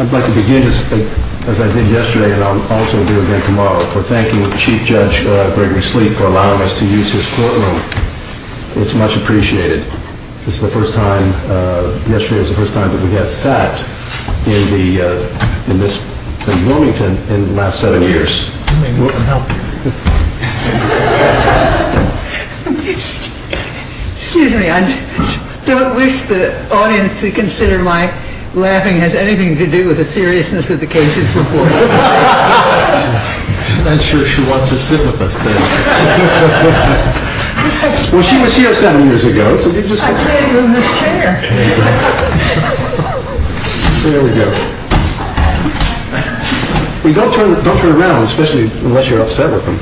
I'd like to begin, as I did yesterday and I'll also do again tomorrow, for thanking Chief Judge Gregory Sleet for allowing us to use his courtroom. It's much appreciated. This is the first time, yesterday was the first time that we got sat in the, in this, in Wilmington in the last seven years. Excuse me, I don't wish the audience to consider my laughing has anything to do with the seriousness of the cases before. I'm sure she wants to sit with us today. Well, she was here seven years ago. I can't move this chair. There we go. Don't turn around, especially unless you're upset with them.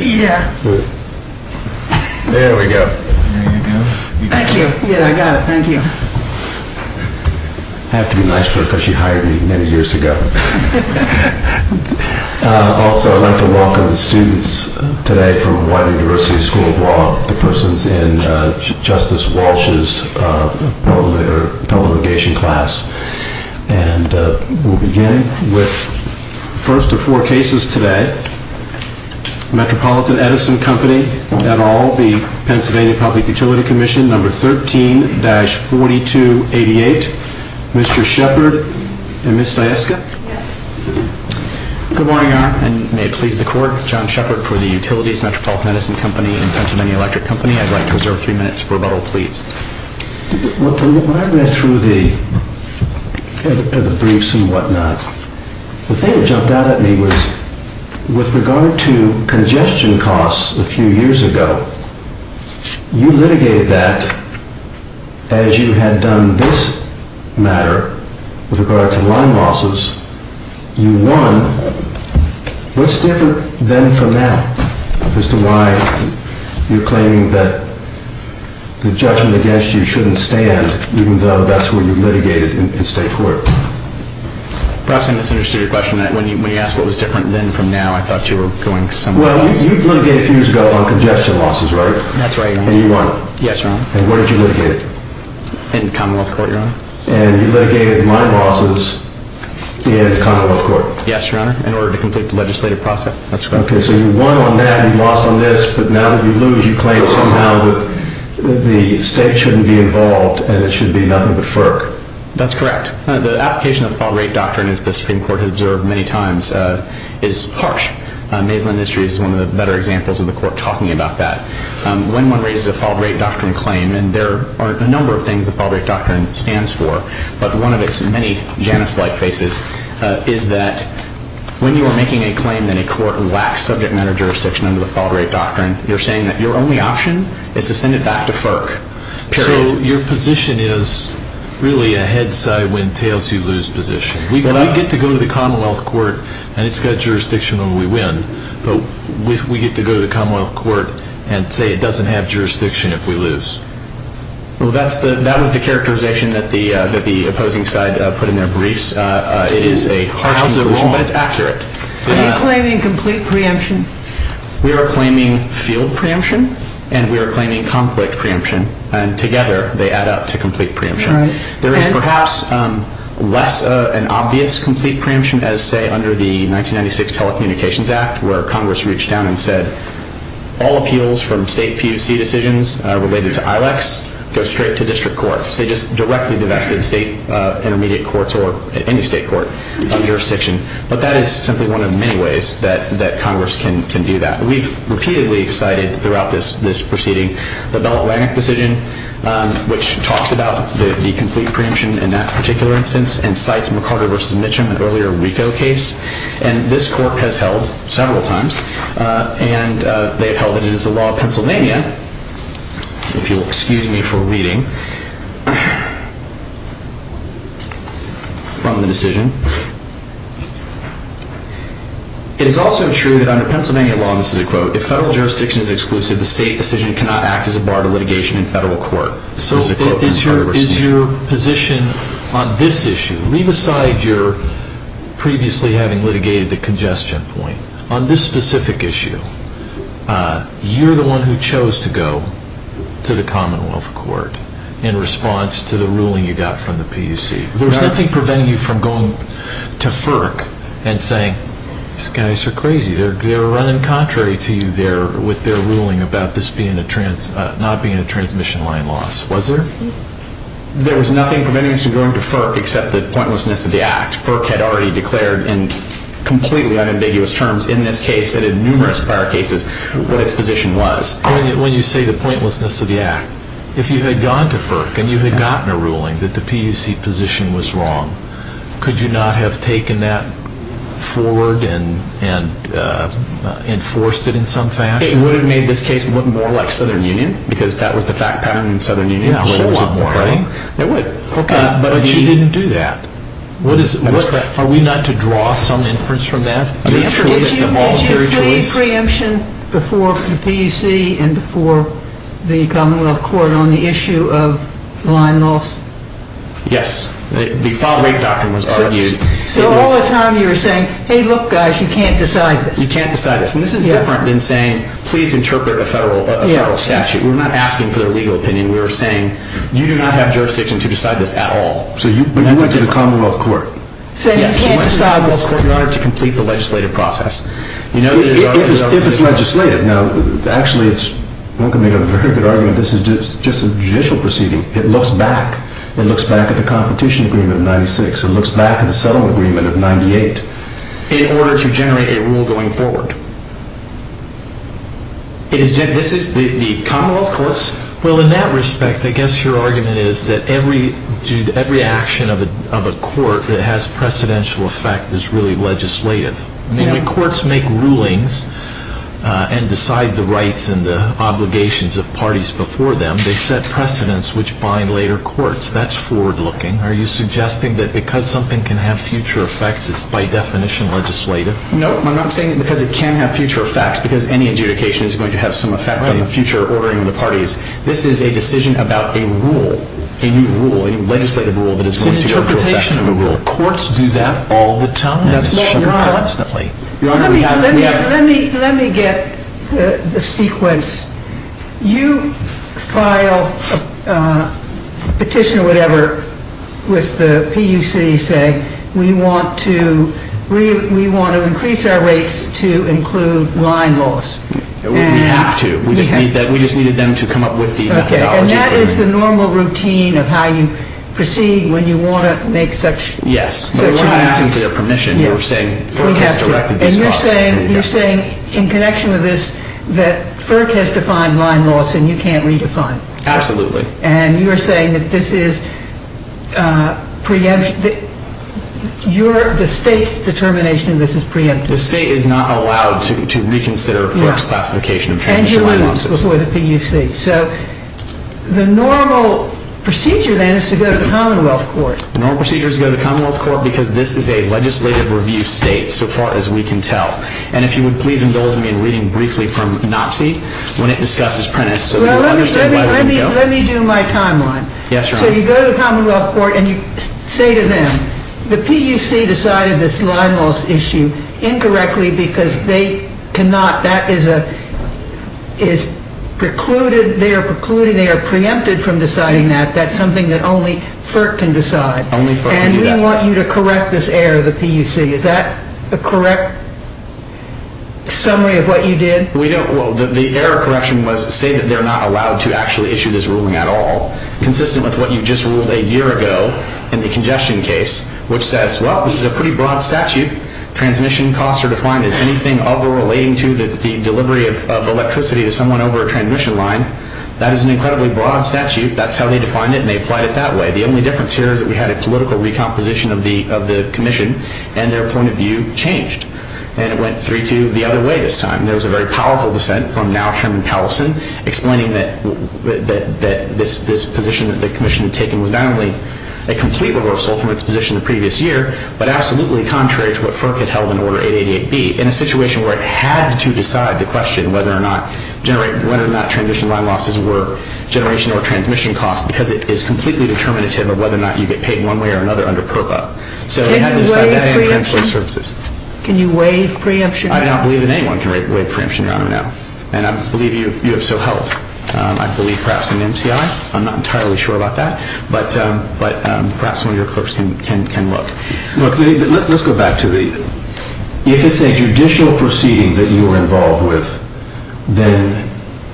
Yeah. There we go. Thank you. Yeah, I got it. Thank you. I have to be nice to her because she hired me many years ago. Also, I'd like to welcome the students today from the University School of Law, the persons in Justice Walsh's delegation class. And we'll begin with the first of four cases today. Metropolitan Edison Company et al., the Pennsylvania Public Utility Commission, number 13-4288. Mr. Shepard and Ms. Stieska. Good morning, Your Honor, and may it please the court, John Shepard for the Utilities Metropolitan Edison Company and Pennsylvania Electric Company. I'd like to reserve three minutes for rebuttal, please. When I read through the briefs and whatnot, the thing that jumped out at me was with regard to congestion costs a few years ago, you litigated that as you had done this matter with regard to line losses. You won. What's different then from now as to why you're claiming that the judgment against you shouldn't stand even though that's what you litigated in state court? Perhaps I misunderstood your question. When you asked what was different then from now, I thought you were going somewhere else. Well, you litigated a few years ago on congestion losses, right? That's right, Your Honor. And you won. Yes, Your Honor. And where did you litigate it? In Commonwealth Court, Your Honor. And you litigated line losses in Commonwealth Court? Yes, Your Honor, in order to complete the legislative process. That's correct. Okay, so you won on that and you lost on this, but now that you lose, you claim somehow that the state shouldn't be involved and it should be nothing but FERC. That's correct. The application of the Fault Rate Doctrine, as the Supreme Court has observed many times, is harsh. Maislin Industries is one of the better examples of the court talking about that. When one raises a Fault Rate Doctrine claim, and there are a number of things the Fault Rate Doctrine stands for, but one of its many Janus-like faces is that when you are making a claim that a court lacks subject matter jurisdiction under the Fault Rate Doctrine, you're saying that your only option is to send it back to FERC, period. Your position is really a head-side-win-tails-you-lose position. We get to go to the Commonwealth Court and it's got jurisdiction when we win, but we get to go to the Commonwealth Court and say it doesn't have jurisdiction if we lose. Well, that was the characterization that the opposing side put in their briefs. It is a harsh conclusion, but it's accurate. Are you claiming complete preemption? We are claiming field preemption and we are claiming conflict preemption, and together they add up to complete preemption. There is perhaps less of an obvious complete preemption as, say, under the 1996 Telecommunications Act, where Congress reached out and said all appeals from state PUC decisions related to ILACs go straight to district courts. They just directly divested state intermediate courts or any state court from jurisdiction, but that is simply one of many ways that Congress can do that. We've repeatedly cited throughout this proceeding the Bell Atlantic decision, which talks about the complete preemption in that particular instance and cites McCarter v. Mitchum, an earlier RICO case. And this court has held several times, and they've held that it is the law of Pennsylvania, if you'll excuse me for reading from the decision. It is also true that under Pennsylvania law, and this is a quote, if federal jurisdiction is exclusive, the state decision cannot act as a bar to litigation in federal court. So is your position on this issue, leave aside your previously having litigated the congestion point, on this specific issue, you're the one who chose to go to the Commonwealth Court in response to the ruling you got from the PUC. There's nothing preventing you from going to FERC and saying, these guys are crazy. They were running contrary to you there with their ruling about this not being a transmission line loss, was there? There was nothing preventing us from going to FERC except the pointlessness of the act. FERC had already declared in completely unambiguous terms in this case and in numerous prior cases what its position was. When you say the pointlessness of the act, if you had gone to FERC and you had gotten a ruling that the PUC position was wrong, could you not have taken that forward and enforced it in some fashion? It would have made this case look more like Southern Union, because that was the fact pattern in Southern Union. Yeah, hold on. It would. But you didn't do that. Are we not to draw some inference from that? Did you place preemption before the PUC and before the Commonwealth Court on the issue of line loss? Yes. The file rate doctrine was argued. So all the time you were saying, hey, look guys, you can't decide this. You can't decide this. And this is different than saying, please interpret a federal statute. We're not asking for their legal opinion. We're saying, you do not have jurisdiction to decide this at all. But you went to the Commonwealth Court. Yes, you went to the Commonwealth Court in order to complete the legislative process. If it's legislated. Now, actually, one could make a very good argument this is just a judicial proceeding. It looks back. It looks back at the competition agreement of 1996. It looks back at the settlement agreement of 1998. In order to generate a rule going forward. This is the Commonwealth Courts? Well, in that respect, I guess your argument is that every action of a court that has precedential effect is really legislative. When the courts make rulings and decide the rights and the obligations of parties before them, they set precedents which bind later courts. That's forward looking. Are you suggesting that because something can have future effects, it's by definition legislative? No, I'm not saying because it can have future effects. Because any adjudication is going to have some effect in the future ordering of the parties. This is a decision about a rule, a new rule, a legislative rule that is going to affect the rule. It's an interpretation of a rule. Courts do that all the time. That's what we are. Constantly. Let me get the sequence. You file a petition or whatever with the PUC saying we want to increase our rates to include line laws. We have to. We just needed them to come up with the methodology. And that is the normal routine of how you proceed when you want to make such a request. Yes, but we're not asking for their permission. We're saying FERC has directed this process. You're saying in connection with this that FERC has defined line laws and you can't redefine them. Absolutely. And you're saying that this is the state's determination and this is preemptive. The state is not allowed to reconsider FERC's classification of transition line laws. And you're moving them before the PUC. So the normal procedure then is to go to the Commonwealth Court. The normal procedure is to go to the Commonwealth Court because this is a legislative review state so far as we can tell. And if you would please indulge me in reading briefly from NOPSI when it discusses Prentiss. Let me do my timeline. Yes, Your Honor. So you go to the Commonwealth Court and you say to them, the PUC decided this line law issue incorrectly because they cannot. That is precluded. They are preempted from deciding that. That's something that only FERC can decide. Only FERC can do that. And we want you to correct this error, the PUC. Is that a correct summary of what you did? Well, the error correction was to say that they're not allowed to actually issue this ruling at all, consistent with what you just ruled a year ago in the congestion case, which says, well, this is a pretty broad statute. Transmission costs are defined as anything other relating to the delivery of electricity to someone over a transmission line. That is an incredibly broad statute. That's how they defined it, and they applied it that way. The only difference here is that we had a political recomposition of the commission, and their point of view changed. And it went 3-2 the other way this time. There was a very powerful dissent from now Chairman Powellson explaining that this position that the commission had taken was not only a complete reversal from its position the previous year, but absolutely contrary to what FERC had held in Order 888B in a situation where it had to decide the question whether or not transmission line losses were generation or transmission costs because it is completely determinative of whether or not you get paid one way or another under PROBA. So they had to decide that and preemption services. Can you waive preemption now? I do not believe that anyone can waive preemption, Your Honor, now. And I believe you have so held. I believe perhaps an MCI. I'm not entirely sure about that, but perhaps one of your clerks can look. Look, let's go back to the... If it's a judicial proceeding that you are involved with, then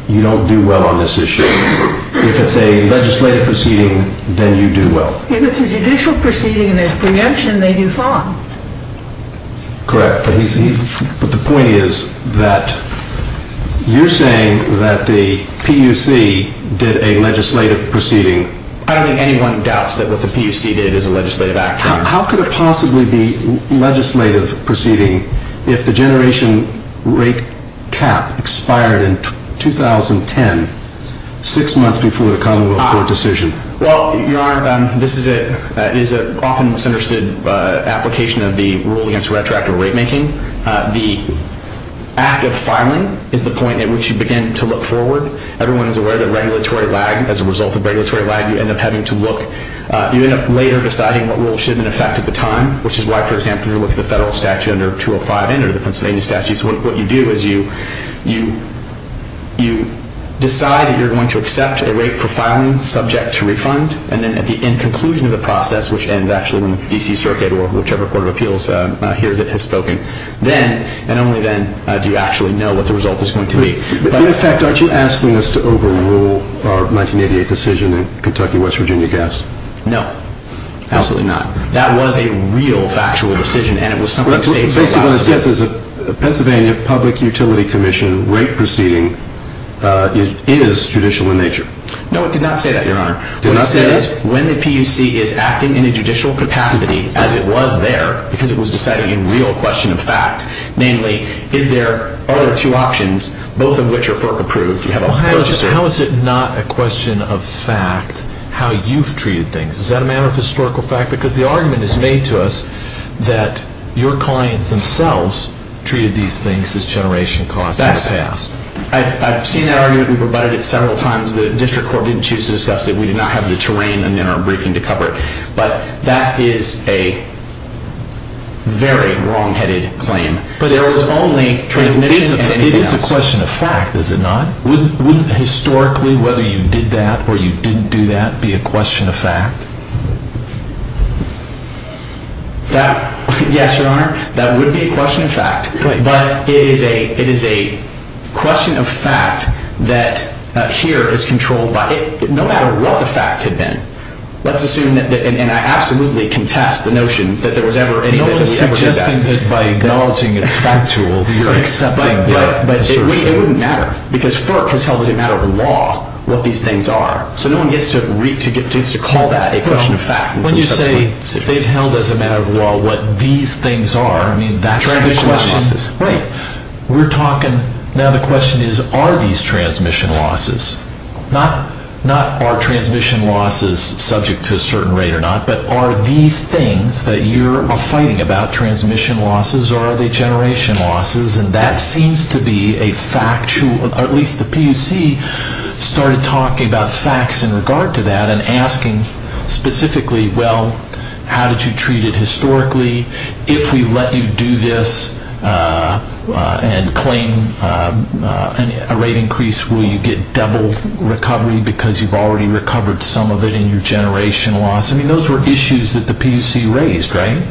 you don't do well on this issue. If it's a legislative proceeding, then you do well. If it's a judicial proceeding and there's preemption, they do fine. Correct. But the point is that you're saying that the PUC did a legislative proceeding... I don't think anyone doubts that what the PUC did is a legislative action. How could it possibly be legislative proceeding if the generation rate cap expired in 2010, six months before the commonwealth court decision? Well, Your Honor, this is an often misunderstood application of the rule against retroactive rate making. The act of filing is the point at which you begin to look forward. Everyone is aware that regulatory lag, as a result of regulatory lag, you end up having to look. You end up later deciding what rule should have been in effect at the time, which is why, for example, if you look at the federal statute under 205 and under the Pennsylvania statute, what you do is you decide that you're going to accept a rate for filing subject to refund, and then at the end conclusion of the process, which ends actually when the D.C. Circuit or whichever court of appeals hears it and has spoken, then and only then do you actually know what the result is going to be. In effect, aren't you asking us to overrule our 1988 decision in Kentucky-West Virginia gas? No, absolutely not. That was a real factual decision, and it was something the states were allowed to do. Basically what it says is the Pennsylvania Public Utility Commission rate proceeding is judicial in nature. No, it did not say that, Your Honor. It did not say that? What it said is when the PUC is acting in a judicial capacity as it was there, because it was decided in real question of fact, namely, is there other two options, both of which are FERC-approved? How is it not a question of fact how you've treated things? Is that a matter of historical fact? Because the argument is made to us that your clients themselves treated these things as generation costs in the past. I've seen that argument. We've rebutted it several times. The district court didn't choose to discuss it. We did not have the terrain in our briefing to cover it. But that is a very wrongheaded claim. But it is a question of fact, is it not? Wouldn't historically, whether you did that or you didn't do that, be a question of fact? That, yes, Your Honor, that would be a question of fact. But it is a question of fact that here is controlled by it, no matter what the fact had been. Let's assume that, and I absolutely contest the notion that there was ever any evidence of that. I think that by acknowledging it's factual, you're accepting the assertion. But it wouldn't matter, because FERC has held as a matter of law what these things are. So no one gets to call that a question of fact. Well, when you say they've held as a matter of law what these things are, I mean, that's the question. Transmission losses. Right. We're talking, now the question is, are these transmission losses? Not are transmission losses subject to a certain rate or not, but are these things that you're fighting about transmission losses or are they generation losses? And that seems to be a factual, or at least the PUC started talking about facts in regard to that and asking specifically, well, how did you treat it historically? If we let you do this and claim a rate increase, will you get double recovery because you've already recovered some of it in your generation loss? I mean, those were issues that the PUC raised, right?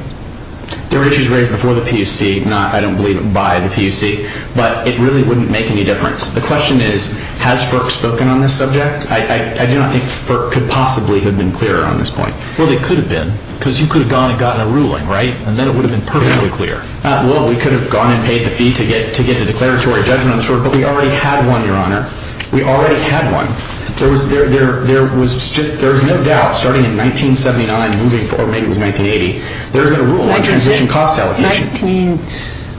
They were issues raised before the PUC, not, I don't believe, by the PUC. But it really wouldn't make any difference. The question is, has FERC spoken on this subject? I do not think FERC could possibly have been clearer on this point. Well, they could have been because you could have gone and gotten a ruling, right? And then it would have been perfectly clear. Well, we could have gone and paid the fee to get the declaratory judgment on the short, but we already had one, Your Honor. We already had one. There was no doubt starting in 1979, moving forward, maybe it was 1980, there's been a rule on transition cost allocation. Nineteen,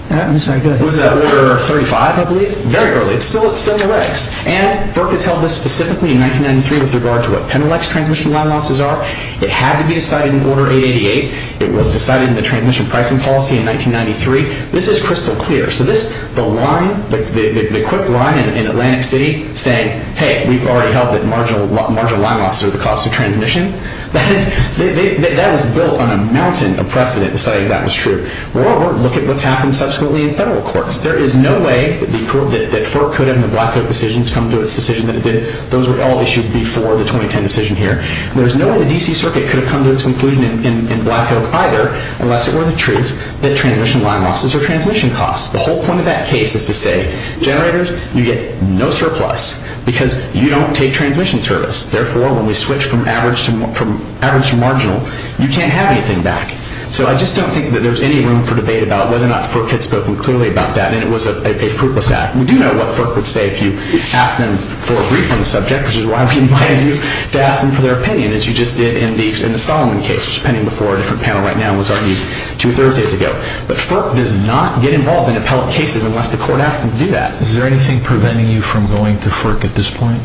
I'm sorry, go ahead. Was that order 35, I believe? Very early. It's still in the regs. And FERC has held this specifically in 1993 with regard to what Pennilex transmission losses are. It had to be decided in Order 888. It was decided in the Transmission Pricing Policy in 1993. This is crystal clear. So this, the line, the quick line in Atlantic City saying, hey, we've already held that marginal line losses are the cause of transmission, that was built on a mountain of precedent deciding that was true. Moreover, look at what's happened subsequently in federal courts. There is no way that FERC could have in the Black Coat decisions come to its decision that it did. Those were all issued before the 2010 decision here. There's no way the D.C. Circuit could have come to its conclusion in Black Coat either unless it were the truth that transmission line losses are transmission costs. The whole point of that case is to say, generators, you get no surplus because you don't take transmission service. Therefore, when we switch from average to marginal, you can't have anything back. So I just don't think that there's any room for debate about whether or not FERC had spoken clearly about that and it was a fruitless act. We do know what FERC would say if you asked them for a brief on the subject, which is why we invited you to ask them for their opinion as you just did in the Solomon case, which is pending before a different panel right now and was argued two Thursdays ago. But FERC does not get involved in appellate cases unless the court asks them to do that. Is there anything preventing you from going to FERC at this point?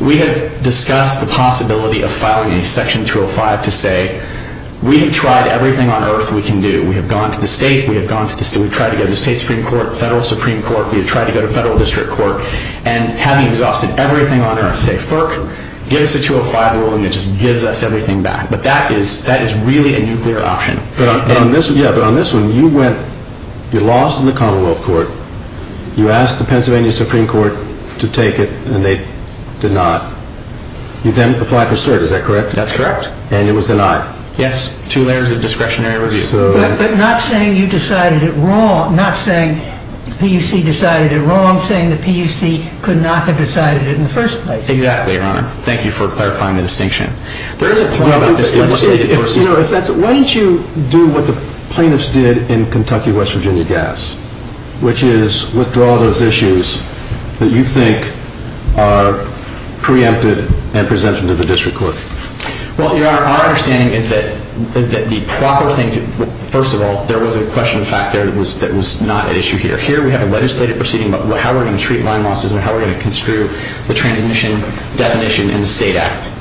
We have discussed the possibility of filing a Section 205 to say, we have tried everything on earth we can do. We have gone to the state, we have gone to the state, we've tried to go to the state Supreme Court, federal Supreme Court, we've tried to go to federal district court, and have you exhausted everything on earth to say, FERC, give us a 205 rule and it just gives us everything back. But that is really a nuclear option. But on this one, you went, you lost in the Commonwealth Court, you asked the Pennsylvania Supreme Court to take it and they did not. You then applied for cert, is that correct? That's correct. And it was denied. Yes, two layers of discretionary review. But not saying you decided it wrong, not saying the PUC decided it wrong, saying the PUC could not have decided it in the first place. Exactly, Your Honor. Thank you for clarifying the distinction. There is a point about this legislation. Why don't you do what the plaintiffs did in Kentucky-West Virginia gas, which is withdraw those issues that you think are preempted and presented to the district court. Well, Your Honor, our understanding is that the proper thing, first of all, there was a question of fact there that was not at issue here. Here we have a legislative proceeding about how we're going to treat line losses and how we're going to construe the transmission definition in the state act.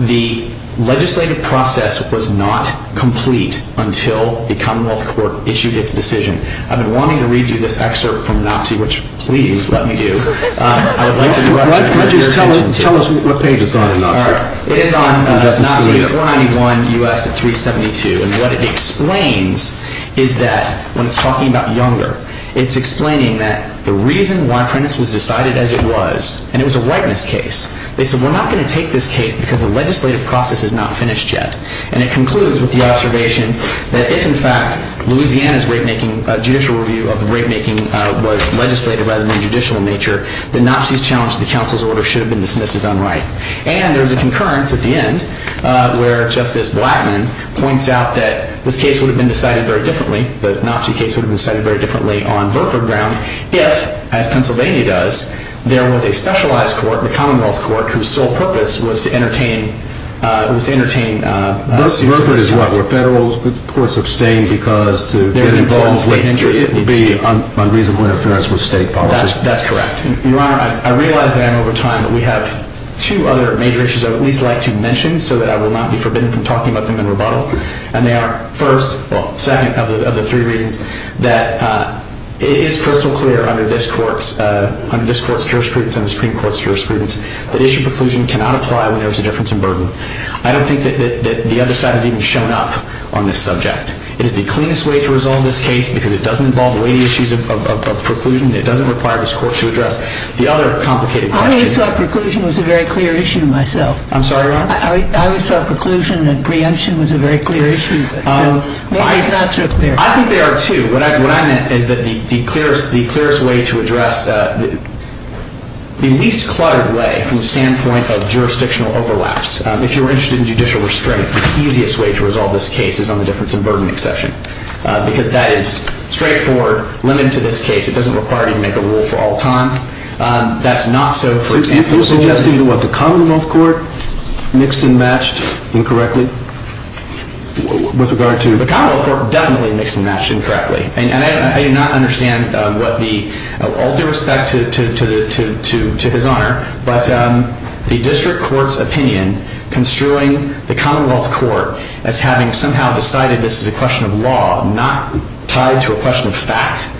The legislative process was not complete until the Commonwealth Court issued its decision. I've been wanting to read you this excerpt from Anopsy, which please let me do. Why don't you just tell us what page it's on in Anopsy. It is on Anopsy 491 U.S. 372. And what it explains is that when it's talking about Younger, it's explaining that the reason why Prentiss was decided as it was, and it was a whiteness case, they said we're not going to take this case because the legislative process is not finished yet. And it concludes with the observation that if, in fact, Louisiana's judicial review of rapemaking was legislated by the new judicial nature, the Anopsy's challenge to the council's order should have been dismissed as unright. And there's a concurrence at the end where Justice Blackmun points out that this case would have been decided very differently, the Anopsy case would have been decided very differently on Burford grounds, if, as Pennsylvania does, there was a specialized court, the Commonwealth Court, whose sole purpose was to entertain students of Burford. There's what, where federal courts abstain because to get involved in state interests, it would be unreasonable interference with state policy. That's correct. Your Honor, I realize that I'm over time, but we have two other major issues I would at least like to mention so that I will not be forbidden from talking about them in rebuttal. And they are, first, well, second of the three reasons that it is crystal clear under this court's jurisprudence and the Supreme Court's jurisprudence that issue preclusion cannot apply when there is a difference in burden. I don't think that the other side has even shown up on this subject. It is the cleanest way to resolve this case because it doesn't involve weighty issues of preclusion. It doesn't require this court to address the other complicated questions. I always thought preclusion was a very clear issue to myself. I'm sorry, Your Honor? I always thought preclusion and preemption was a very clear issue, but maybe it's not so clear. I think they are, too. What I meant is that the clearest way to address, the least cluttered way from the standpoint of jurisdictional overlaps, if you're interested in judicial restraint, the easiest way to resolve this case is on the difference in burden exception because that is straightforward, limited to this case. It doesn't require you to make a rule for all time. That's not so for example. You're suggesting that the Commonwealth Court mixed and matched incorrectly with regard to? The Commonwealth Court definitely mixed and matched incorrectly. And I do not understand what the, all due respect to his Honor, but the district court's opinion construing the Commonwealth Court as having somehow decided this is a question of law, not tied to a question of fact,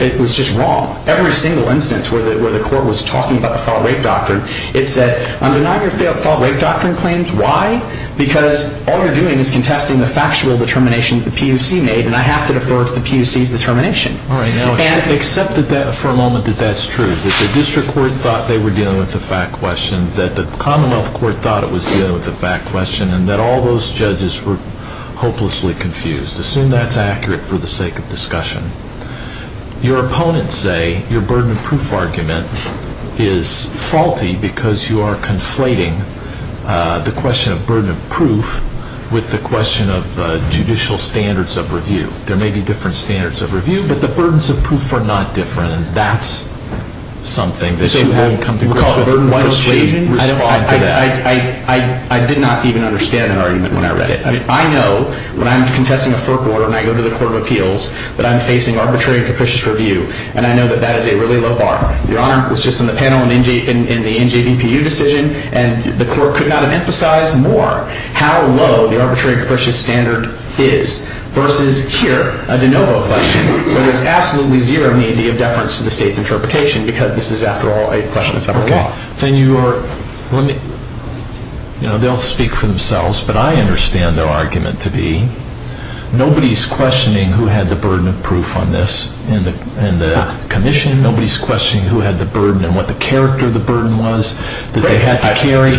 it was just wrong. Every single instance where the court was talking about the thought-rape doctrine, it said, I'm denying your thought-rape doctrine claims. Why? Because all you're doing is contesting the factual determination the PUC made, and I have to defer to the PUC's determination. All right, now accept for a moment that that's true, that the district court thought they were dealing with a fact question, that the Commonwealth Court thought it was dealing with a fact question, and that all those judges were hopelessly confused. Assume that's accurate for the sake of discussion. Your opponents say your burden of proof argument is faulty because you are conflating the question of burden of proof with the question of judicial standards of review. There may be different standards of review, but the burdens of proof are not different, and that's something that you haven't come to grips with once you respond to that. I did not even understand that argument when I read it. I mean, I know when I'm contesting a fork order and I go to the Court of Appeals that I'm facing arbitrary and capricious review, and I know that that is a really low bar. Your Honor, it was just in the panel in the NJDPU decision, and the court could not have emphasized more how low the arbitrary and capricious standard is versus here, a de novo question, where there's absolutely zero need of deference to the state's interpretation because this is, after all, a question of federal law. Okay. Then you are, let me, you know, they'll speak for themselves, but I understand their argument to be nobody's questioning who had the burden of proof on this in the commission. Nobody's questioning who had the burden and what the character of the burden was that they had to carry.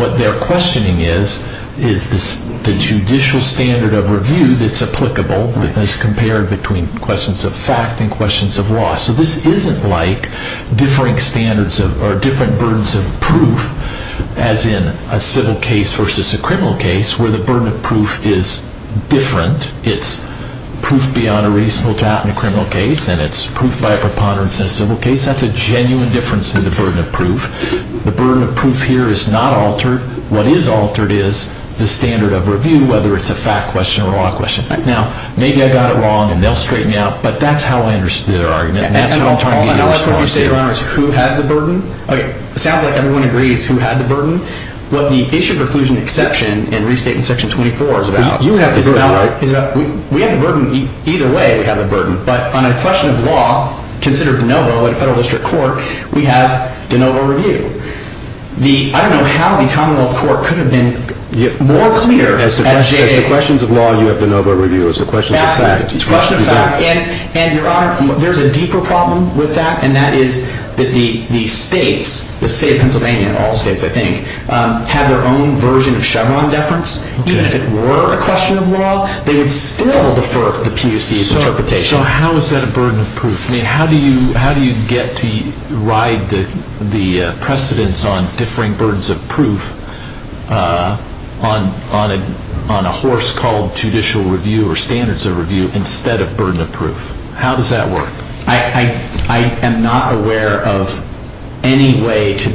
What they're questioning is the judicial standard of review that's applicable as compared between questions of fact and questions of law. So this isn't like differing standards or different burdens of proof, as in a civil case versus a criminal case, where the burden of proof is different. It's proof beyond a reasonable doubt in a criminal case, and it's proof by a preponderance in a civil case. That's a genuine difference in the burden of proof. The burden of proof here is not altered. What is altered is the standard of review, whether it's a fact question or a law question. Now, maybe I got it wrong, and they'll straighten me out, but that's how I understood their argument, and that's what I'm trying to get your response to. I know that's what we say, Your Honors. Who has the burden? Okay. It sounds like everyone agrees who had the burden. What the issue of reclusion exception and restate in Section 24 is about is about... You have the burden, right? We have the burden. Either way, we have the burden, but on a question of law, considered de novo in a federal district court, we have de novo review. I don't know how the Commonwealth Court could have been more clear... As the questions of law, you have de novo review. As the questions of fact, you have de facto. And, Your Honor, there's a deeper problem with that, and that is that the states, the state of Pennsylvania and all states, I think, have their own version of Chevron deference. Even if it were a question of law, they would still defer to the PUC's interpretation. So how is that a burden of proof? How do you get to ride the precedence on differing burdens of proof on a horse called judicial review or standards of review instead of burden of proof? How does that work? I am not aware of any way to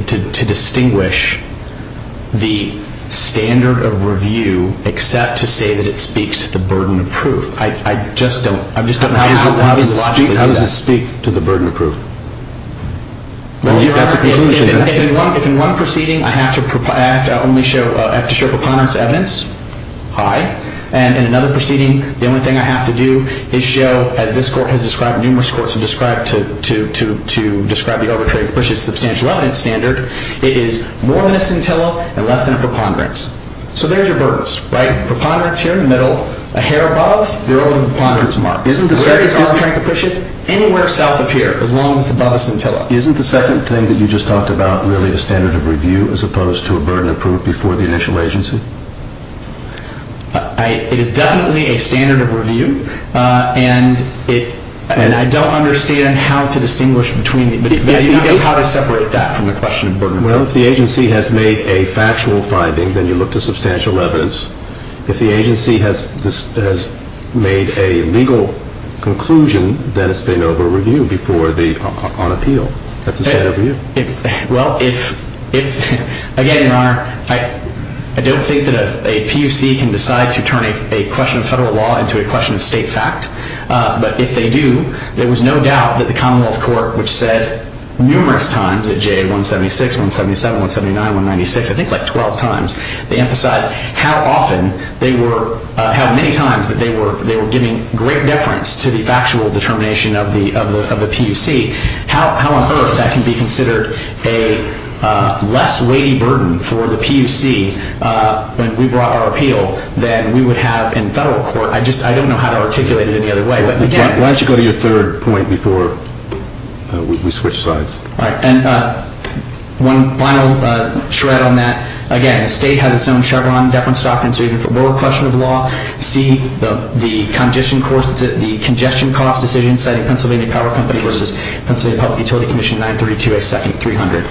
distinguish the standard of review How does it speak to the burden of proof? Well, Your Honor, if in one proceeding I have to show preponderance of evidence, I, and in another proceeding the only thing I have to do is show, as this Court has described in numerous courts, and described to describe the overtraded substantial evidence standard, it is more than a scintilla and less than a preponderance. So there's your burdens, right? They're all in the preponderance mark. Where it is overtrained capricious, anywhere south of here, as long as it's above a scintilla. Isn't the second thing that you just talked about really the standard of review as opposed to a burden of proof before the initial agency? It is definitely a standard of review, and I don't understand how to distinguish between the two. How do you separate that from the question of burden of proof? Well, if the agency has made a factual finding, then you look to substantial evidence. If the agency has made a legal conclusion, then it's a standard of review on appeal. That's a standard of review. Well, again, Your Honor, I don't think that a PUC can decide to turn a question of federal law into a question of state fact. But if they do, there was no doubt that the Commonwealth Court, which said numerous times at JA 176, 177, 179, 196, I think like 12 times, they emphasized how many times they were giving great deference to the factual determination of the PUC. How on earth that can be considered a less weighty burden for the PUC when we brought our appeal than we would have in federal court? I don't know how to articulate it any other way. Why don't you go to your third point before we switch sides? All right. And one final shred on that. Again, the state has its own Chevron deference doctrine, so even for more question of law, see the congestion cost decision citing Pennsylvania Power Company versus Pennsylvania Public Utility Commission 932, a second 300.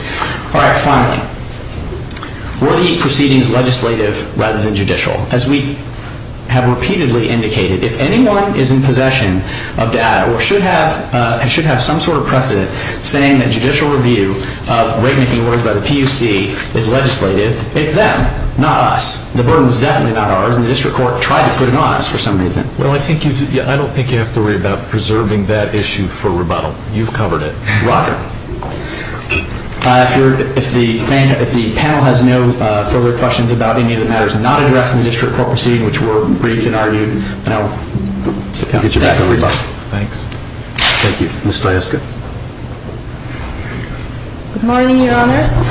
All right. Finally, were the proceedings legislative rather than judicial? As we have repeatedly indicated, if anyone is in possession of data or should have some sort of precedent saying that judicial review of rate-making orders by the PUC is legislative, it's them, not us. The burden was definitely not ours, and the district court tried to put it on us for some reason. Well, I don't think you have to worry about preserving that issue for rebuttal. You've covered it. Roger. If the panel has no further questions about any of the matters not addressed in the district court proceeding, which were briefed and argued, I'll get you back a rebuttal. Thanks. Thank you. Ms. Stajewska. Good morning, Your Honors.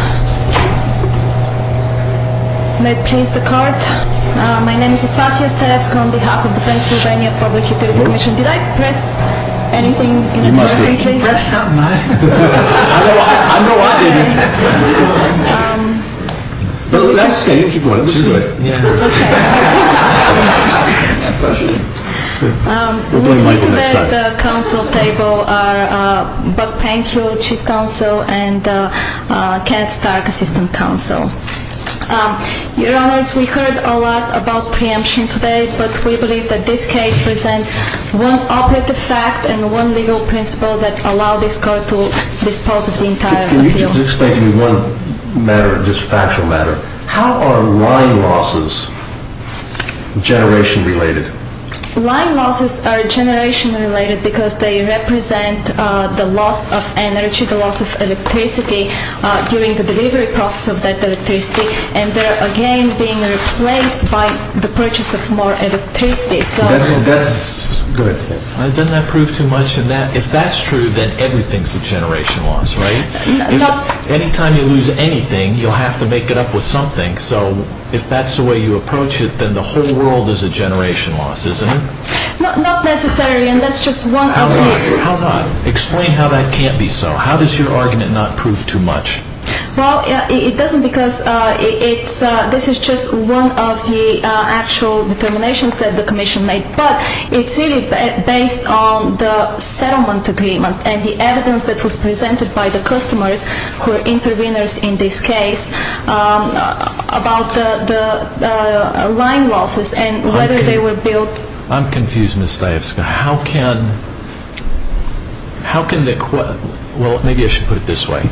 May it please the court. My name is Espatia Stajewska on behalf of the Pennsylvania Public Utility Commission. Did I press anything? You must have pressed something. I know I didn't. Well, that's okay. You can keep going. We'll blame the mic the next time. With me at the council table are Buck Penkel, Chief Counsel, and Kenneth Stark, Assistant Counsel. Your Honors, we heard a lot about preemption today, but we believe that this case presents one operative fact and one legal principle that allow this court to dispose of the entire appeal. Can you just explain to me one matter, just a factual matter? How are line losses generation related? Line losses are generation related because they represent the loss of energy, the loss of electricity during the delivery process of that electricity, and they're, again, being replaced by the purchase of more electricity. That's good. Doesn't that prove too much? If that's true, then everything's a generation loss, right? Anytime you lose anything, you'll have to make it up with something. So if that's the way you approach it, then the whole world is a generation loss, isn't it? Not necessarily. How not? Explain how that can't be so. How does your argument not prove too much? Well, it doesn't because this is just one of the actual determinations that the commission made. But it's really based on the settlement agreement and the evidence that was presented by the customers who are interveners in this case about the line losses and whether they were built. I'm confused, Ms. Stajewska. How can the question, well, maybe I should put it this way.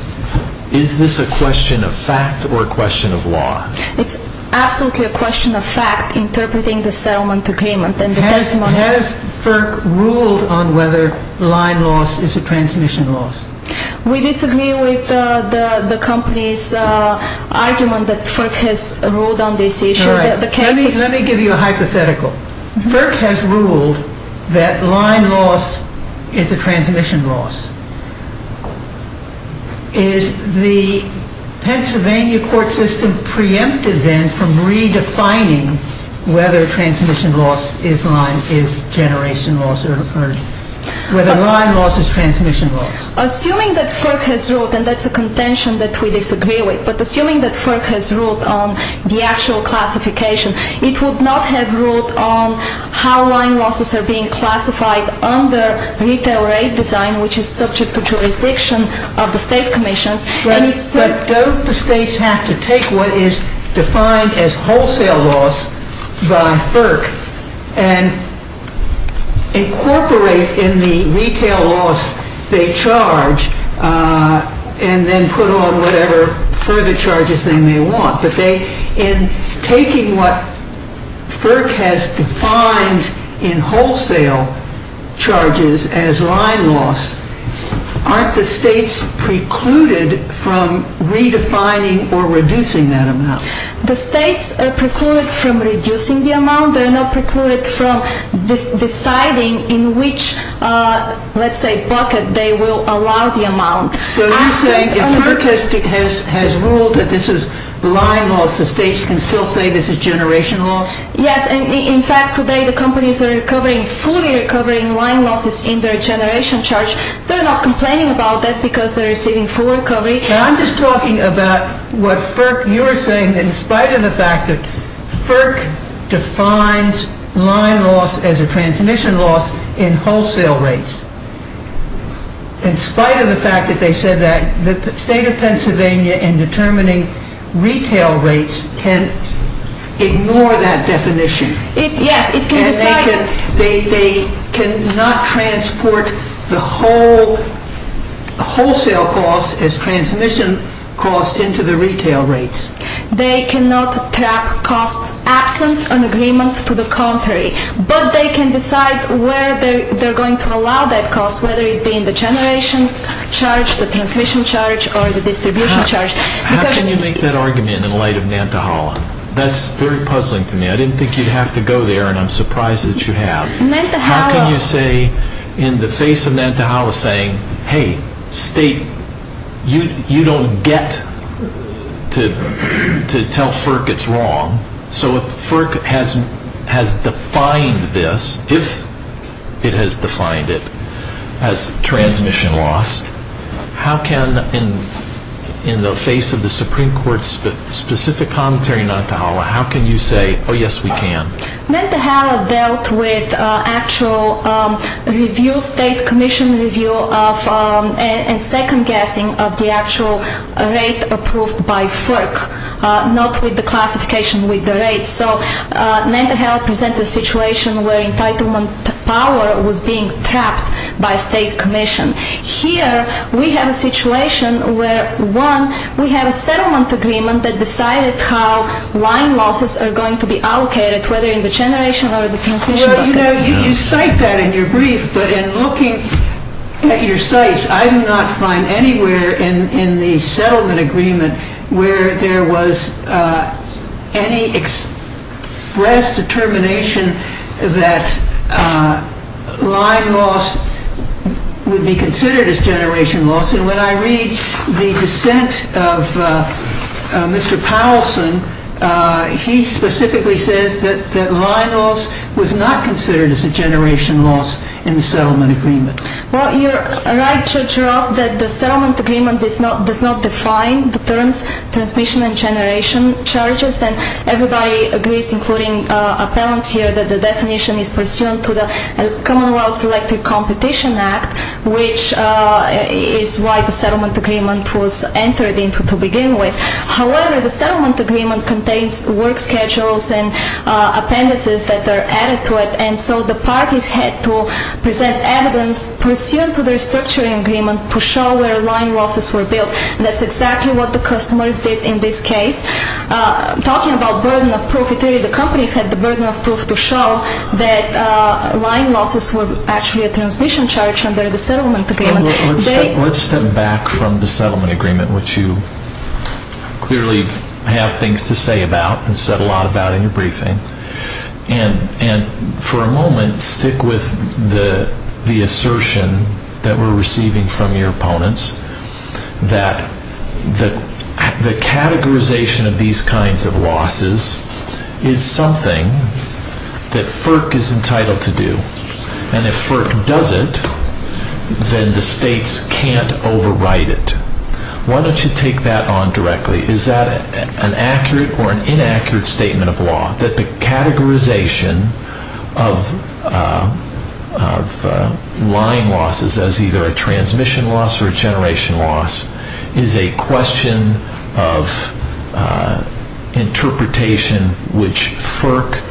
Is this a question of fact or a question of law? It's absolutely a question of fact interpreting the settlement agreement and the testimony. Has FERC ruled on whether line loss is a transmission loss? We disagree with the company's argument that FERC has ruled on this issue. Let me give you a hypothetical. FERC has ruled that line loss is a transmission loss. Is the Pennsylvania court system preempted then from redefining whether transmission loss is generation loss or whether line loss is transmission loss? Assuming that FERC has ruled, and that's a contention that we disagree with, but assuming that FERC has ruled on the actual classification, it would not have ruled on how line losses are being classified under retail rate design, which is subject to jurisdiction of the state commissions. But don't the states have to take what is defined as wholesale loss by FERC and incorporate in the retail loss they charge and then put on whatever further charges they may want? But in taking what FERC has defined in wholesale charges as line loss, aren't the states precluded from redefining or reducing that amount? The states are precluded from reducing the amount. They are not precluded from deciding in which, let's say, bucket they will allow the amount. So you're saying if FERC has ruled that this is line loss, the states can still say this is generation loss? Yes. In fact, today the companies are fully recovering line losses in their generation charge. They're not complaining about that because they're receiving full recovery. I'm just talking about what FERC, you're saying, in spite of the fact that FERC defines line loss as a transmission loss in wholesale rates, in spite of the fact that they said that, the state of Pennsylvania in determining retail rates can ignore that definition. Yes, it can decide. They cannot transport the wholesale cost as transmission cost into the retail rates. They cannot track costs absent an agreement to the contrary. But they can decide where they're going to allow that cost, whether it be in the generation charge, the transmission charge, or the distribution charge. How can you make that argument in light of Nantahala? That's very puzzling to me. I didn't think you'd have to go there, and I'm surprised that you have. How can you say in the face of Nantahala saying, hey, state, you don't get to tell FERC it's wrong. So if FERC has defined this, if it has defined it as transmission loss, how can, in the face of the Supreme Court's specific commentary on Nantahala, how can you say, oh, yes, we can? Nantahala dealt with actual review, state commission review, and second-guessing of the actual rate approved by FERC, not with the classification with the rate. So Nantahala presented a situation where entitlement power was being trapped by state commission. Here we have a situation where, one, we have a settlement agreement that decided how line losses are going to be allocated, whether in the generation or the transmission bucket. Well, you cite that in your brief, but in looking at your cites, I do not find anywhere in the settlement agreement where there was any express determination that line loss would be considered as generation loss. And when I read the dissent of Mr. Powelson, he specifically says that line loss was not considered as a generation loss in the settlement agreement. Well, you're right, Judge Roth, that the settlement agreement does not define the terms transmission and generation charges, and everybody agrees, including appellants here, that the definition is pursuant to the Commonwealth Selective Competition Act, which is why the settlement agreement was entered into to begin with. However, the settlement agreement contains work schedules and appendices that are added to it, and so the parties had to present evidence pursuant to the restructuring agreement to show where line losses were built. And that's exactly what the customers did in this case. Talking about burden of proof, the companies had the burden of proof to show that line losses were actually a transmission charge under the settlement agreement. Let's step back from the settlement agreement, which you clearly have things to say about and said a lot about in your briefing, and for a moment stick with the assertion that we're receiving from your opponents that the categorization of these kinds of losses is something that FERC is entitled to do, and if FERC does it, then the states can't override it. Why don't you take that on directly? Is that an accurate or an inaccurate statement of law, that the categorization of line losses as either a transmission loss or a generation loss is a question of interpretation which FERC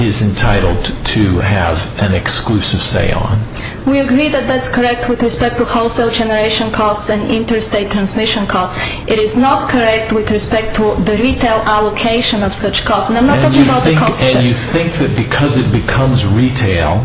is entitled to have an exclusive say on? We agree that that's correct with respect to wholesale generation costs and interstate transmission costs. It is not correct with respect to the retail allocation of such costs. And I'm not talking about the cost of that. And you think that because it becomes retail,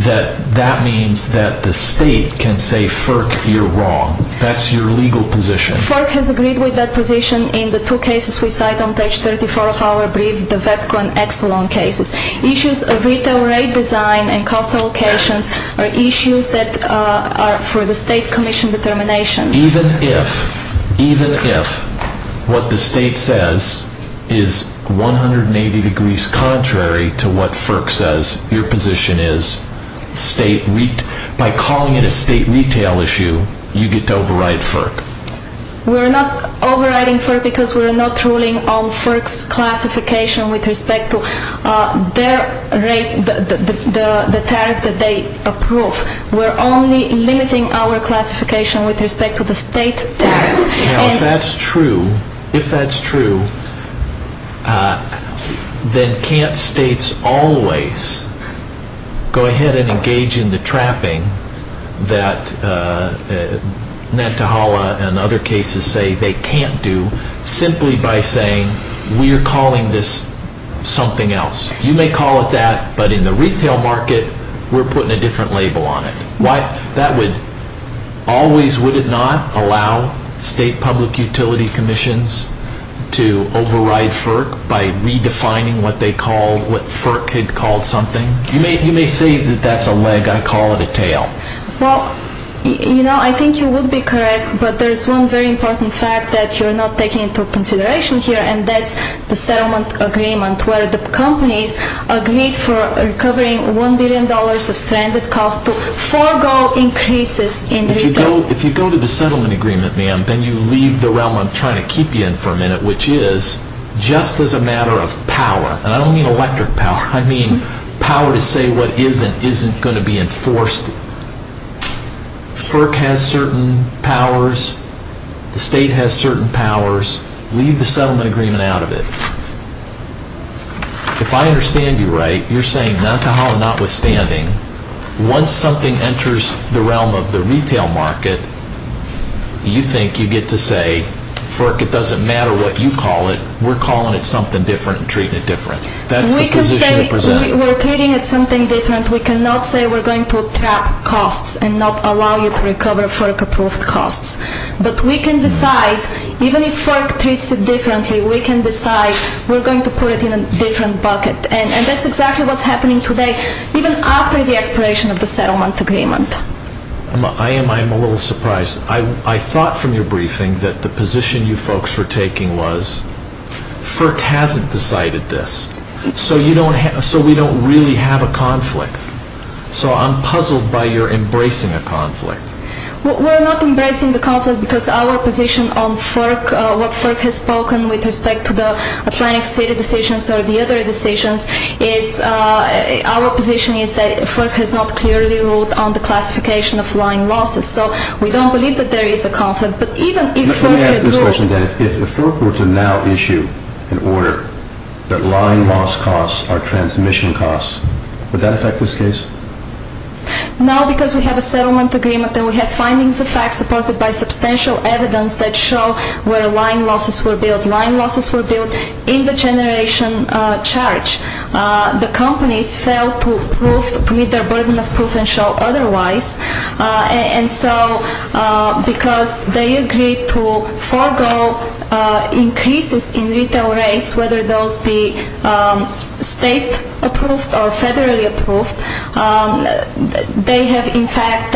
that that means that the state can say, FERC, you're wrong. That's your legal position. FERC has agreed with that position in the two cases we cite on page 34 of our brief, the VEPCO and Exelon cases. Issues of retail rate design and cost allocations are issues that are for the state commission determination. Even if what the state says is 180 degrees contrary to what FERC says your position is, by calling it a state retail issue, you get to override FERC. We're not overriding FERC because we're not ruling on FERC's classification with respect to the tariff that they approve. We're only limiting our classification with respect to the state tariff. Now, if that's true, if that's true, then can't states always go ahead and engage in the trapping that Nantahala and other cases say they can't do simply by saying we're calling this something else? You may call it that, but in the retail market we're putting a different label on it. That would always, would it not, allow state public utility commissions to override FERC by redefining what they call, what FERC had called something? You may say that that's a leg, I call it a tail. Well, you know, I think you would be correct, but there's one very important fact that you're not taking into consideration here, and that's the settlement agreement where the companies agreed for recovering $1 billion of stranded costs to forego increases in retail. If you go to the settlement agreement, ma'am, then you leave the realm I'm trying to keep you in for a minute, which is just as a matter of power, and I don't mean electric power. I mean power to say what isn't isn't going to be enforced. FERC has certain powers. The state has certain powers. Leave the settlement agreement out of it. If I understand you right, you're saying Nantahala notwithstanding, once something enters the realm of the retail market, you think you get to say, FERC, it doesn't matter what you call it, we're calling it something different and treating it different. That's the position you're presenting. We're treating it something different. We cannot say we're going to trap costs and not allow you to recover FERC-approved costs. But we can decide, even if FERC treats it differently, we can decide we're going to put it in a different bucket. And that's exactly what's happening today, even after the expiration of the settlement agreement. I am a little surprised. I thought from your briefing that the position you folks were taking was FERC hasn't decided this. So we don't really have a conflict. So I'm puzzled by your embracing a conflict. We're not embracing the conflict because our position on what FERC has spoken with respect to the Atlantic City decisions or the other decisions is our position is that FERC has not clearly ruled on the classification of line losses. So we don't believe that there is a conflict. Let me ask this question, then. If FERC were to now issue an order that line loss costs are transmission costs, would that affect this case? No, because we have a settlement agreement and we have findings of fact supported by substantial evidence that show where line losses were billed. Line losses were billed in the generation charge. The companies failed to meet their burden of proof and show otherwise. And so because they agreed to forego increases in retail rates, whether those be state-approved or federally approved, they have in fact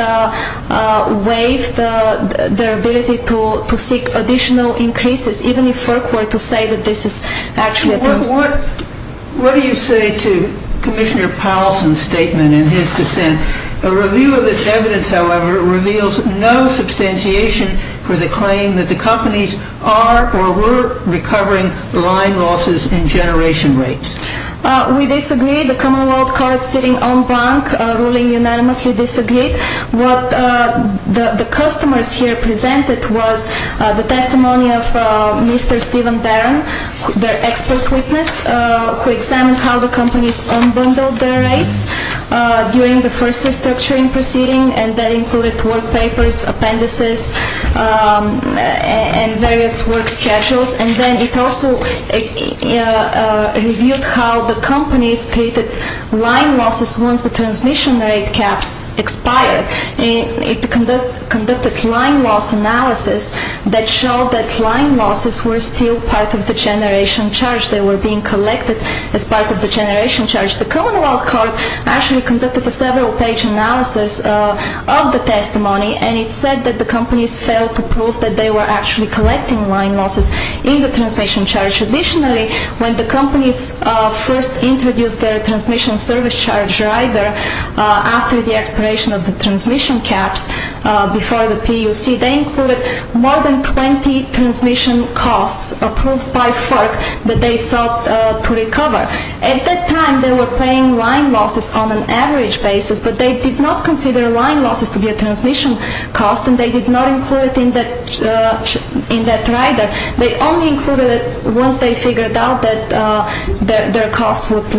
waived their ability to seek additional increases, even if FERC were to say that this is actually a test. What do you say to Commissioner Powelson's statement in his dissent? A review of this evidence, however, reveals no substantiation for the claim that the companies are or were recovering line losses in generation rates. We disagree. The Commonwealth Court sitting en banc ruling unanimously disagreed. What the customers here presented was the testimony of Mr. Stephen Barron, their expert witness, who examined how the companies unbundled their rates during the first restructuring proceeding, and that included work papers, appendices, and various work schedules. And then it also reviewed how the companies treated line losses once the transmission rate caps expired. It conducted line loss analysis that showed that line losses were still part of the generation charge. They were being collected as part of the generation charge. The Commonwealth Court actually conducted a several-page analysis of the testimony, and it said that the companies failed to prove that they were actually collecting line losses in the transmission charge. Additionally, when the companies first introduced their transmission service charge rider after the expiration of the transmission caps before the PUC, they included more than 20 transmission costs approved by FERC that they sought to recover. At that time, they were paying line losses on an average basis, but they did not consider line losses to be a transmission cost, and they did not include it in that rider. They only included it once they figured out that their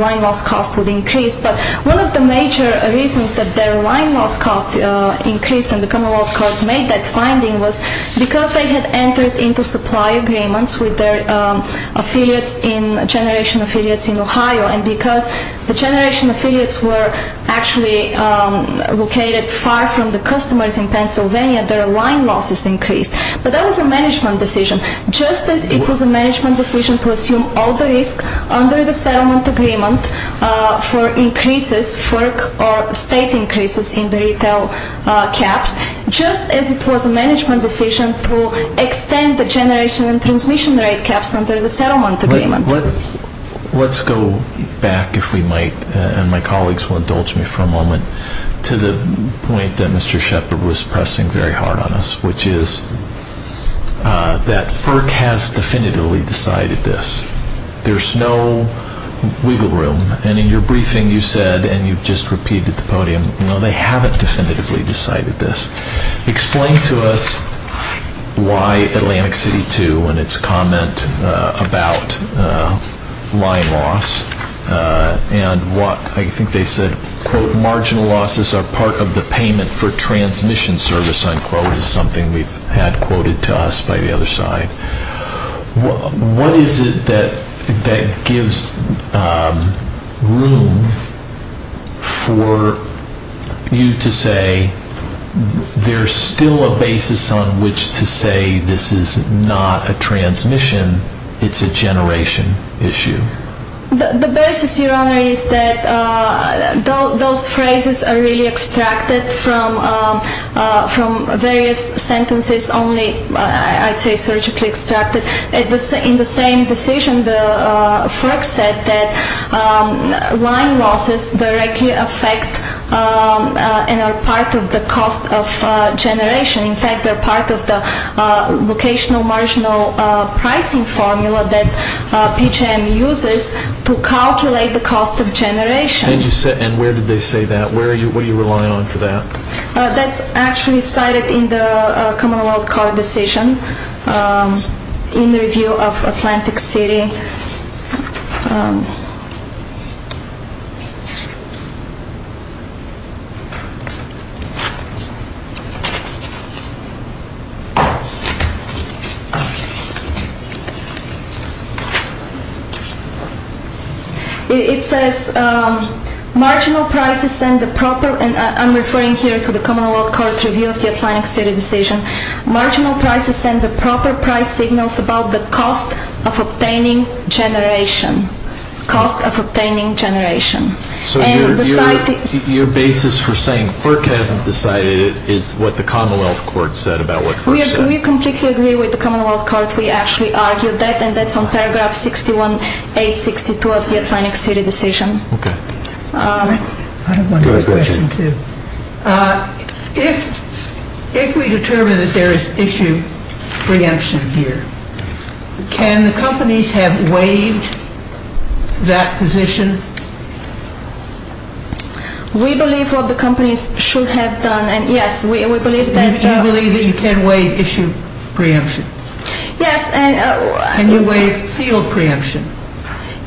line loss cost would increase. But one of the major reasons that their line loss cost increased and the Commonwealth Court made that finding was because they had entered into supply agreements with their affiliates in generation affiliates in Ohio, and because the generation affiliates were actually located far from the customers in Pennsylvania, their line losses increased. But that was a management decision, just as it was a management decision to assume all the risk under the settlement agreement for increases, FERC or state increases in the retail caps, just as it was a management decision to extend the generation and transmission rate caps under the settlement agreement. Let's go back, if we might, and my colleagues will indulge me for a moment, to the point that Mr. Shepard was pressing very hard on us, which is that FERC has definitively decided this. There's no wiggle room, and in your briefing you said, and you've just repeated at the podium, no, they haven't definitively decided this. Explain to us why Atlantic City 2 and its comment about line loss and what, I think they said, quote, marginal losses are part of the payment for transmission service, unquote, is something we've had quoted to us by the other side. What is it that gives room for you to say there's still a basis on which to say this is not a transmission, it's a generation issue? The basis, Your Honor, is that those phrases are really extracted from various sentences, only I'd say surgically extracted. In the same decision, the FERC said that line losses directly affect and are part of the cost of generation. In fact, they're part of the locational marginal pricing formula that PJM uses to calculate the cost of generation. And where did they say that? What are you relying on for that? That's actually cited in the commonwealth court decision in the review of Atlantic City. It says marginal prices send the proper, and I'm referring here to the commonwealth court review of the Atlantic City decision, marginal prices send the proper price signals about the cost of obtaining generation. So your basis for saying FERC hasn't decided is what the commonwealth court said about what FERC said? We completely agree with the commonwealth court. We actually argued that, and that's on paragraph 61-862 of the Atlantic City decision. If we determine that there is issue preemption here, can the companies have waived that position? We believe what the companies should have done, and yes, we believe that. You believe that you can waive issue preemption? Yes. Can you waive field preemption?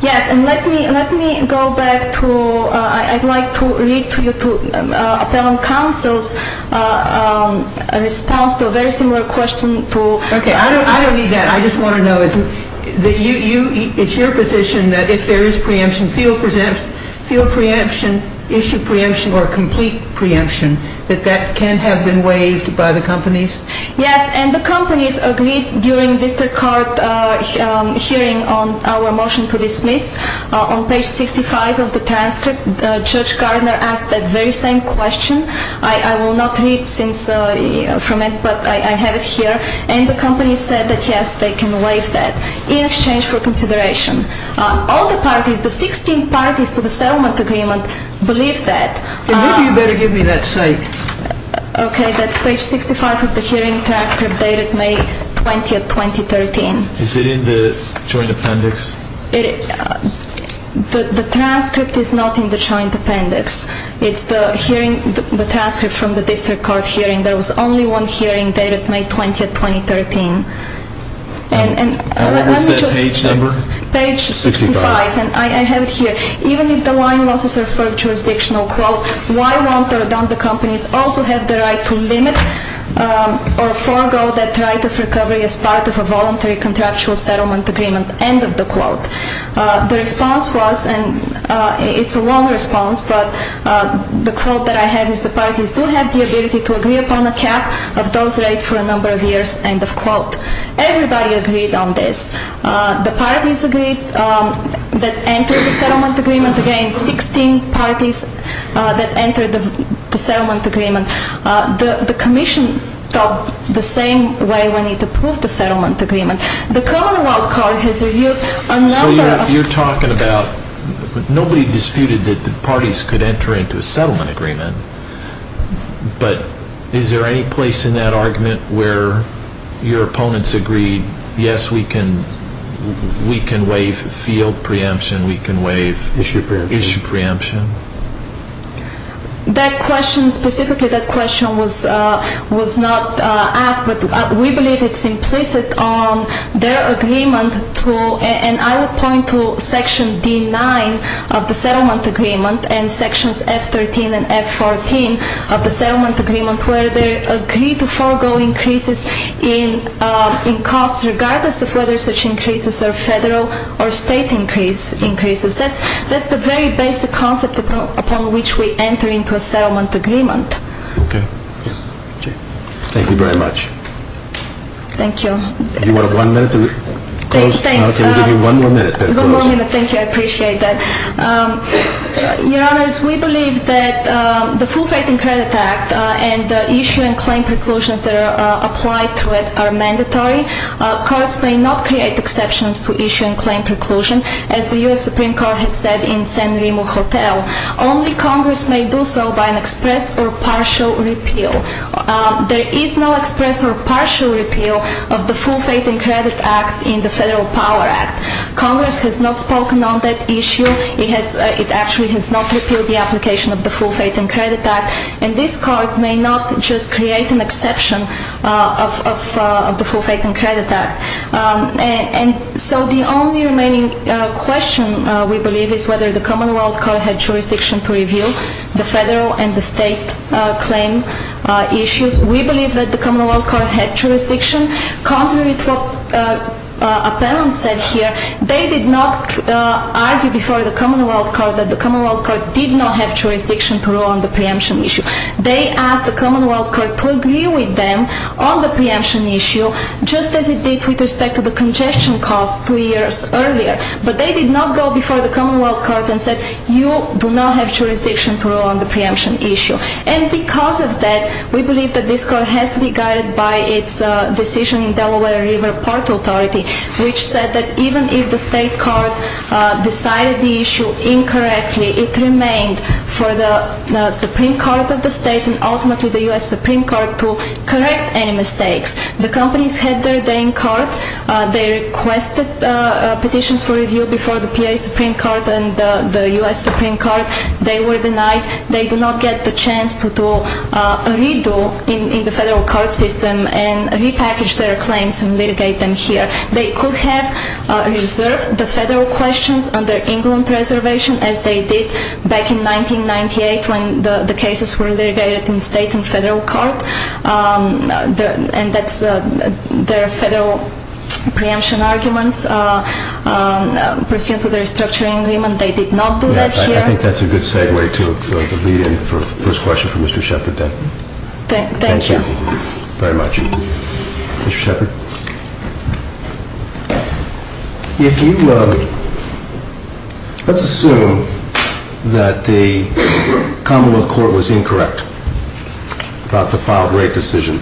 Yes, and let me go back to, I'd like to read to you Appellant Counsel's response to a very similar question. Okay, I don't need that. I just want to know, it's your position that if there is preemption, field preemption, issue preemption, or complete preemption, that that can have been waived by the companies? Yes, and the companies agreed during district court hearing on our motion to dismiss. On page 65 of the transcript, Judge Gardner asked that very same question. I will not read from it, but I have it here. And the companies said that yes, they can waive that in exchange for consideration. All the parties, the 16 parties to the settlement agreement, believe that. Maybe you better give me that cite. Okay, that's page 65 of the hearing transcript dated May 20, 2013. Is it in the joint appendix? The transcript is not in the joint appendix. It's the hearing, the transcript from the district court hearing. There was only one hearing dated May 20, 2013. And what was that page number? Page 65, and I have it here. Even if the line losses are for a jurisdictional quote, why won't or don't the companies also have the right to limit or forego that right of recovery as part of a voluntary contractual settlement agreement, end of the quote. The response was, and it's a long response, but the quote that I have is the parties do have the ability to agree upon a cap of those rates for a number of years, end of quote. Everybody agreed on this. The parties agreed that entered the settlement agreement. Again, 16 parties that entered the settlement agreement. The commission thought the same way when it approved the settlement agreement. The commonwealth court has reviewed a number of... So you're talking about nobody disputed that the parties could enter into a settlement agreement, but is there any place in that argument where your opponents agreed, yes, we can waive field preemption, we can waive... Issue preemption. Issue preemption. That question, specifically that question was not asked, but we believe it's implicit on their agreement to, and I would point to section D9 of the settlement agreement and sections F13 and F14 of the settlement agreement where they agree to forego increases in costs regardless of whether such increases are federal or state increases. That's the very basic concept upon which we enter into a settlement agreement. Okay. Thank you very much. Thank you. Do you want one minute to close? Thanks. Okay, we'll give you one more minute to close. One more minute, thank you, I appreciate that. Your Honors, we believe that the Full Faith in Credit Act and the issue and claim preclusions that are applied to it are mandatory. Courts may not create exceptions to issue and claim preclusion, as the U.S. Supreme Court has said in San Remo Hotel. Only Congress may do so by an express or partial repeal. There is no express or partial repeal of the Full Faith in Credit Act in the Federal Power Act. Congress has not spoken on that issue. It actually has not repealed the application of the Full Faith in Credit Act. And this Court may not just create an exception of the Full Faith in Credit Act. And so the only remaining question, we believe, is whether the Commonwealth Court had jurisdiction to review the federal and the state claim issues. We believe that the Commonwealth Court had jurisdiction. Contrary to what Appellant said here, they did not argue before the Commonwealth Court that the Commonwealth Court did not have jurisdiction to rule on the preemption issue. They asked the Commonwealth Court to agree with them on the preemption issue, just as it did with respect to the congestion cost two years earlier. But they did not go before the Commonwealth Court and said, you do not have jurisdiction to rule on the preemption issue. And because of that, we believe that this Court has to be guided by its decision in Delaware River Port Authority, which said that even if the state court decided the issue incorrectly, it remained for the Supreme Court of the state and ultimately the U.S. Supreme Court to correct any mistakes. The companies had their day in court. They requested petitions for review before the PA Supreme Court and the U.S. Supreme Court. They were denied. They did not get the chance to redo in the federal court system and repackage their claims and litigate them here. They could have reserved the federal questions under England preservation, as they did back in 1998 when the cases were litigated in state and federal court. And that's their federal preemption arguments pursuant to the restructuring agreement. They did not do that here. I think that's a good segue to the lead-in for the first question for Mr. Shepard. Thank you. Thank you very much. Mr. Shepard? If you let's assume that the Commonwealth Court was incorrect about the filed rate decision,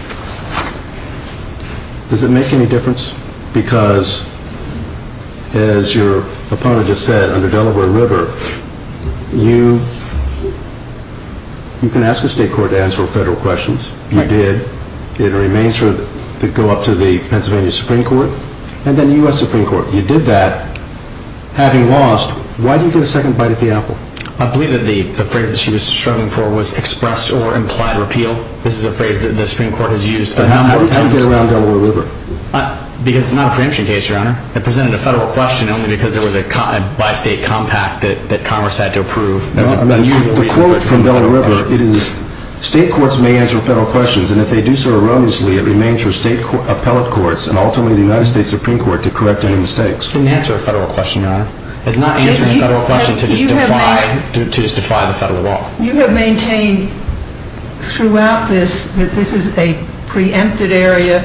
does it make any difference? Because as your opponent just said, under Delaware River, you can ask a state court to answer federal questions. You did. It remains to go up to the Pennsylvania Supreme Court and then the U.S. Supreme Court. You did that. Having lost, why do you get a second bite at the apple? I believe that the phrase that she was struggling for was express or implied repeal. This is a phrase that the Supreme Court has used. How did you get around Delaware River? Because it's not a preemption case, Your Honor. It presented a federal question only because it was a bi-state compact that Congress had to approve. The quote from Delaware River, it is, state courts may answer federal questions, and if they do so erroneously, it remains for state appellate courts and ultimately the United States Supreme Court to correct any mistakes. It doesn't answer a federal question, Your Honor. It's not answering a federal question to just defy the federal law. You have maintained throughout this that this is a preempted area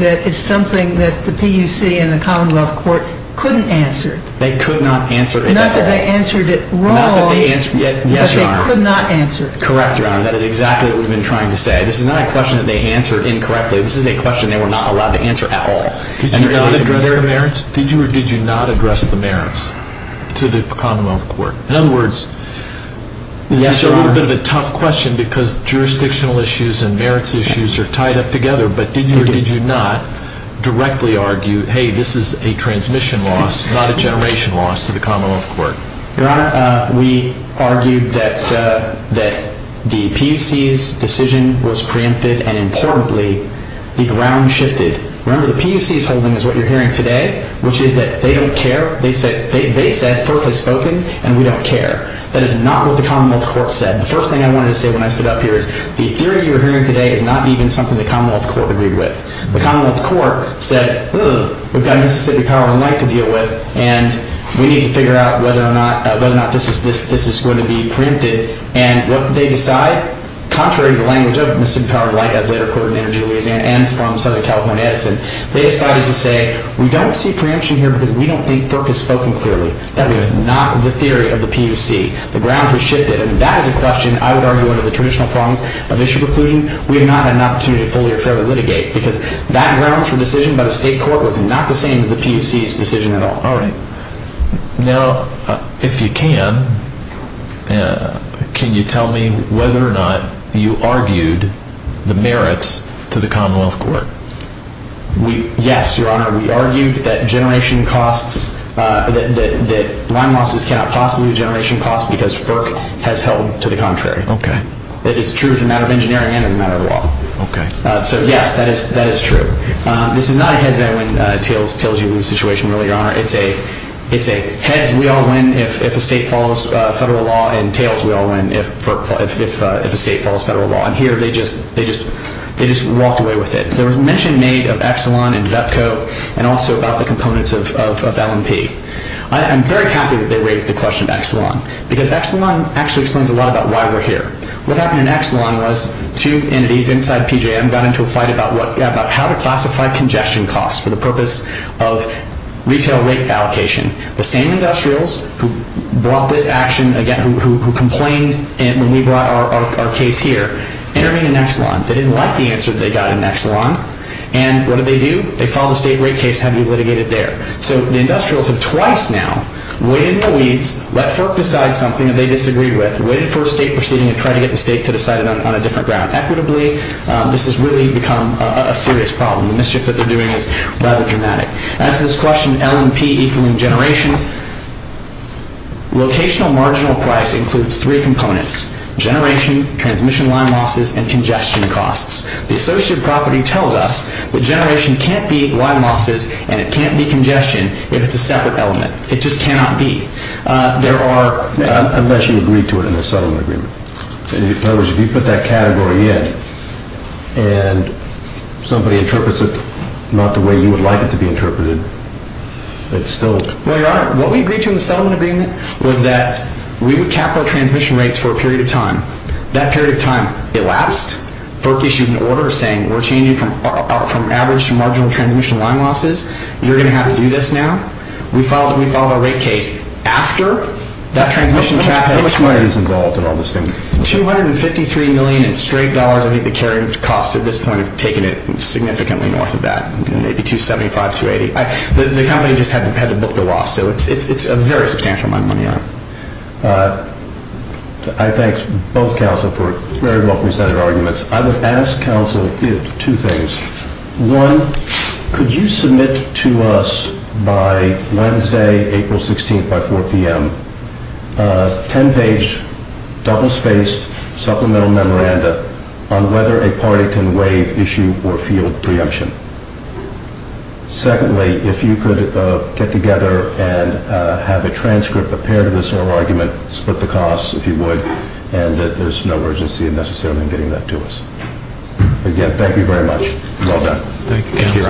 that is something that the PUC and the Commonwealth Court couldn't answer. They could not answer it at all. Not that they answered it wrong, but they could not answer it. Correct, Your Honor. That is exactly what we've been trying to say. This is not a question that they answered incorrectly. This is a question they were not allowed to answer at all. Did you or did you not address the merits to the Commonwealth Court? In other words, this is a little bit of a tough question because jurisdictional issues and merits issues are tied up together, but did you or did you not directly argue, hey, this is a transmission loss, not a generation loss to the Commonwealth Court? Your Honor, we argued that the PUC's decision was preempted, and importantly, the ground shifted. Remember, the PUC's holding is what you're hearing today, which is that they don't care. They said FERC has spoken, and we don't care. That is not what the Commonwealth Court said. The first thing I wanted to say when I stood up here is the theory you're hearing today is not even something the Commonwealth Court agreed with. The Commonwealth Court said, ugh, we've got Mississippi Power and Light to deal with, and we need to figure out whether or not this is going to be preempted. And what did they decide? Contrary to the language of Mississippi Power and Light, as later quoted in their due liaison and from Southern California Edison, they decided to say we don't see preemption here because we don't think FERC has spoken clearly. That is not the theory of the PUC. The ground has shifted, and that is a question I would argue under the traditional prongs of issue preclusion. We have not had an opportunity to fully or fairly litigate because that grounds for decision by the state court was not the same as the PUC's decision at all. Now, if you can, can you tell me whether or not you argued the merits to the Commonwealth Court? Yes, Your Honor. We argued that line losses cannot possibly be generation costs because FERC has held to the contrary. That is true as a matter of engineering and as a matter of law. So, yes, that is true. This is not a heads-I-win-tails-you-lose situation, really, Your Honor. It is a heads-we-all-win-if-a-state-follows-federal-law and tails-we-all-win-if-a-state-follows-federal-law. And here they just walked away with it. There was mention made of Exelon and VEPCO and also about the components of L&P. I am very happy that they raised the question of Exelon because Exelon actually explains a lot about why we are here. What happened in Exelon was two entities inside PJM got into a fight about how to classify congestion costs for the purpose of retail rate allocation. The same industrials who brought this action, again, who complained when we brought our case here, intervened in Exelon. They didn't like the answer that they got in Exelon. And what did they do? They filed a state rate case and had it litigated there. So the industrials have twice now waited in the weeds, let FERC decide something that they disagree with, and waited for a state proceeding and tried to get the state to decide it on a different ground. Equitably, this has really become a serious problem. The mischief that they are doing is rather dramatic. As to this question of L&P equaling generation, locational marginal price includes three components, generation, transmission line losses, and congestion costs. The associated property tells us that generation can't be line losses and it can't be congestion if it's a separate element. It just cannot be. Unless you agree to it in the settlement agreement. In other words, if you put that category in and somebody interprets it not the way you would like it to be interpreted, it's still... Well, Your Honor, what we agreed to in the settlement agreement was that we would cap our transmission rates for a period of time. That period of time elapsed. FERC issued an order saying we're changing from average to marginal transmission line losses. You're going to have to do this now. We filed a rate case after that transmission... How much money is involved in all this thing? $253 million in straight dollars. I think the carriage costs at this point have taken it significantly north of that. Maybe $275 million, $280 million. The company just had to book the loss. So it's a very substantial amount of money. I thank both counsel for very well presented arguments. I would ask counsel two things. One, could you submit to us by Wednesday, April 16th, by 4 p.m., a 10-page double-spaced supplemental memoranda on whether a party can waive issue or field preemption? Secondly, if you could get together and have a transcript, a pair to this oral argument, split the costs, if you would, and there's no urgency in necessarily getting that to us. Again, thank you very much. Well done. Thank you.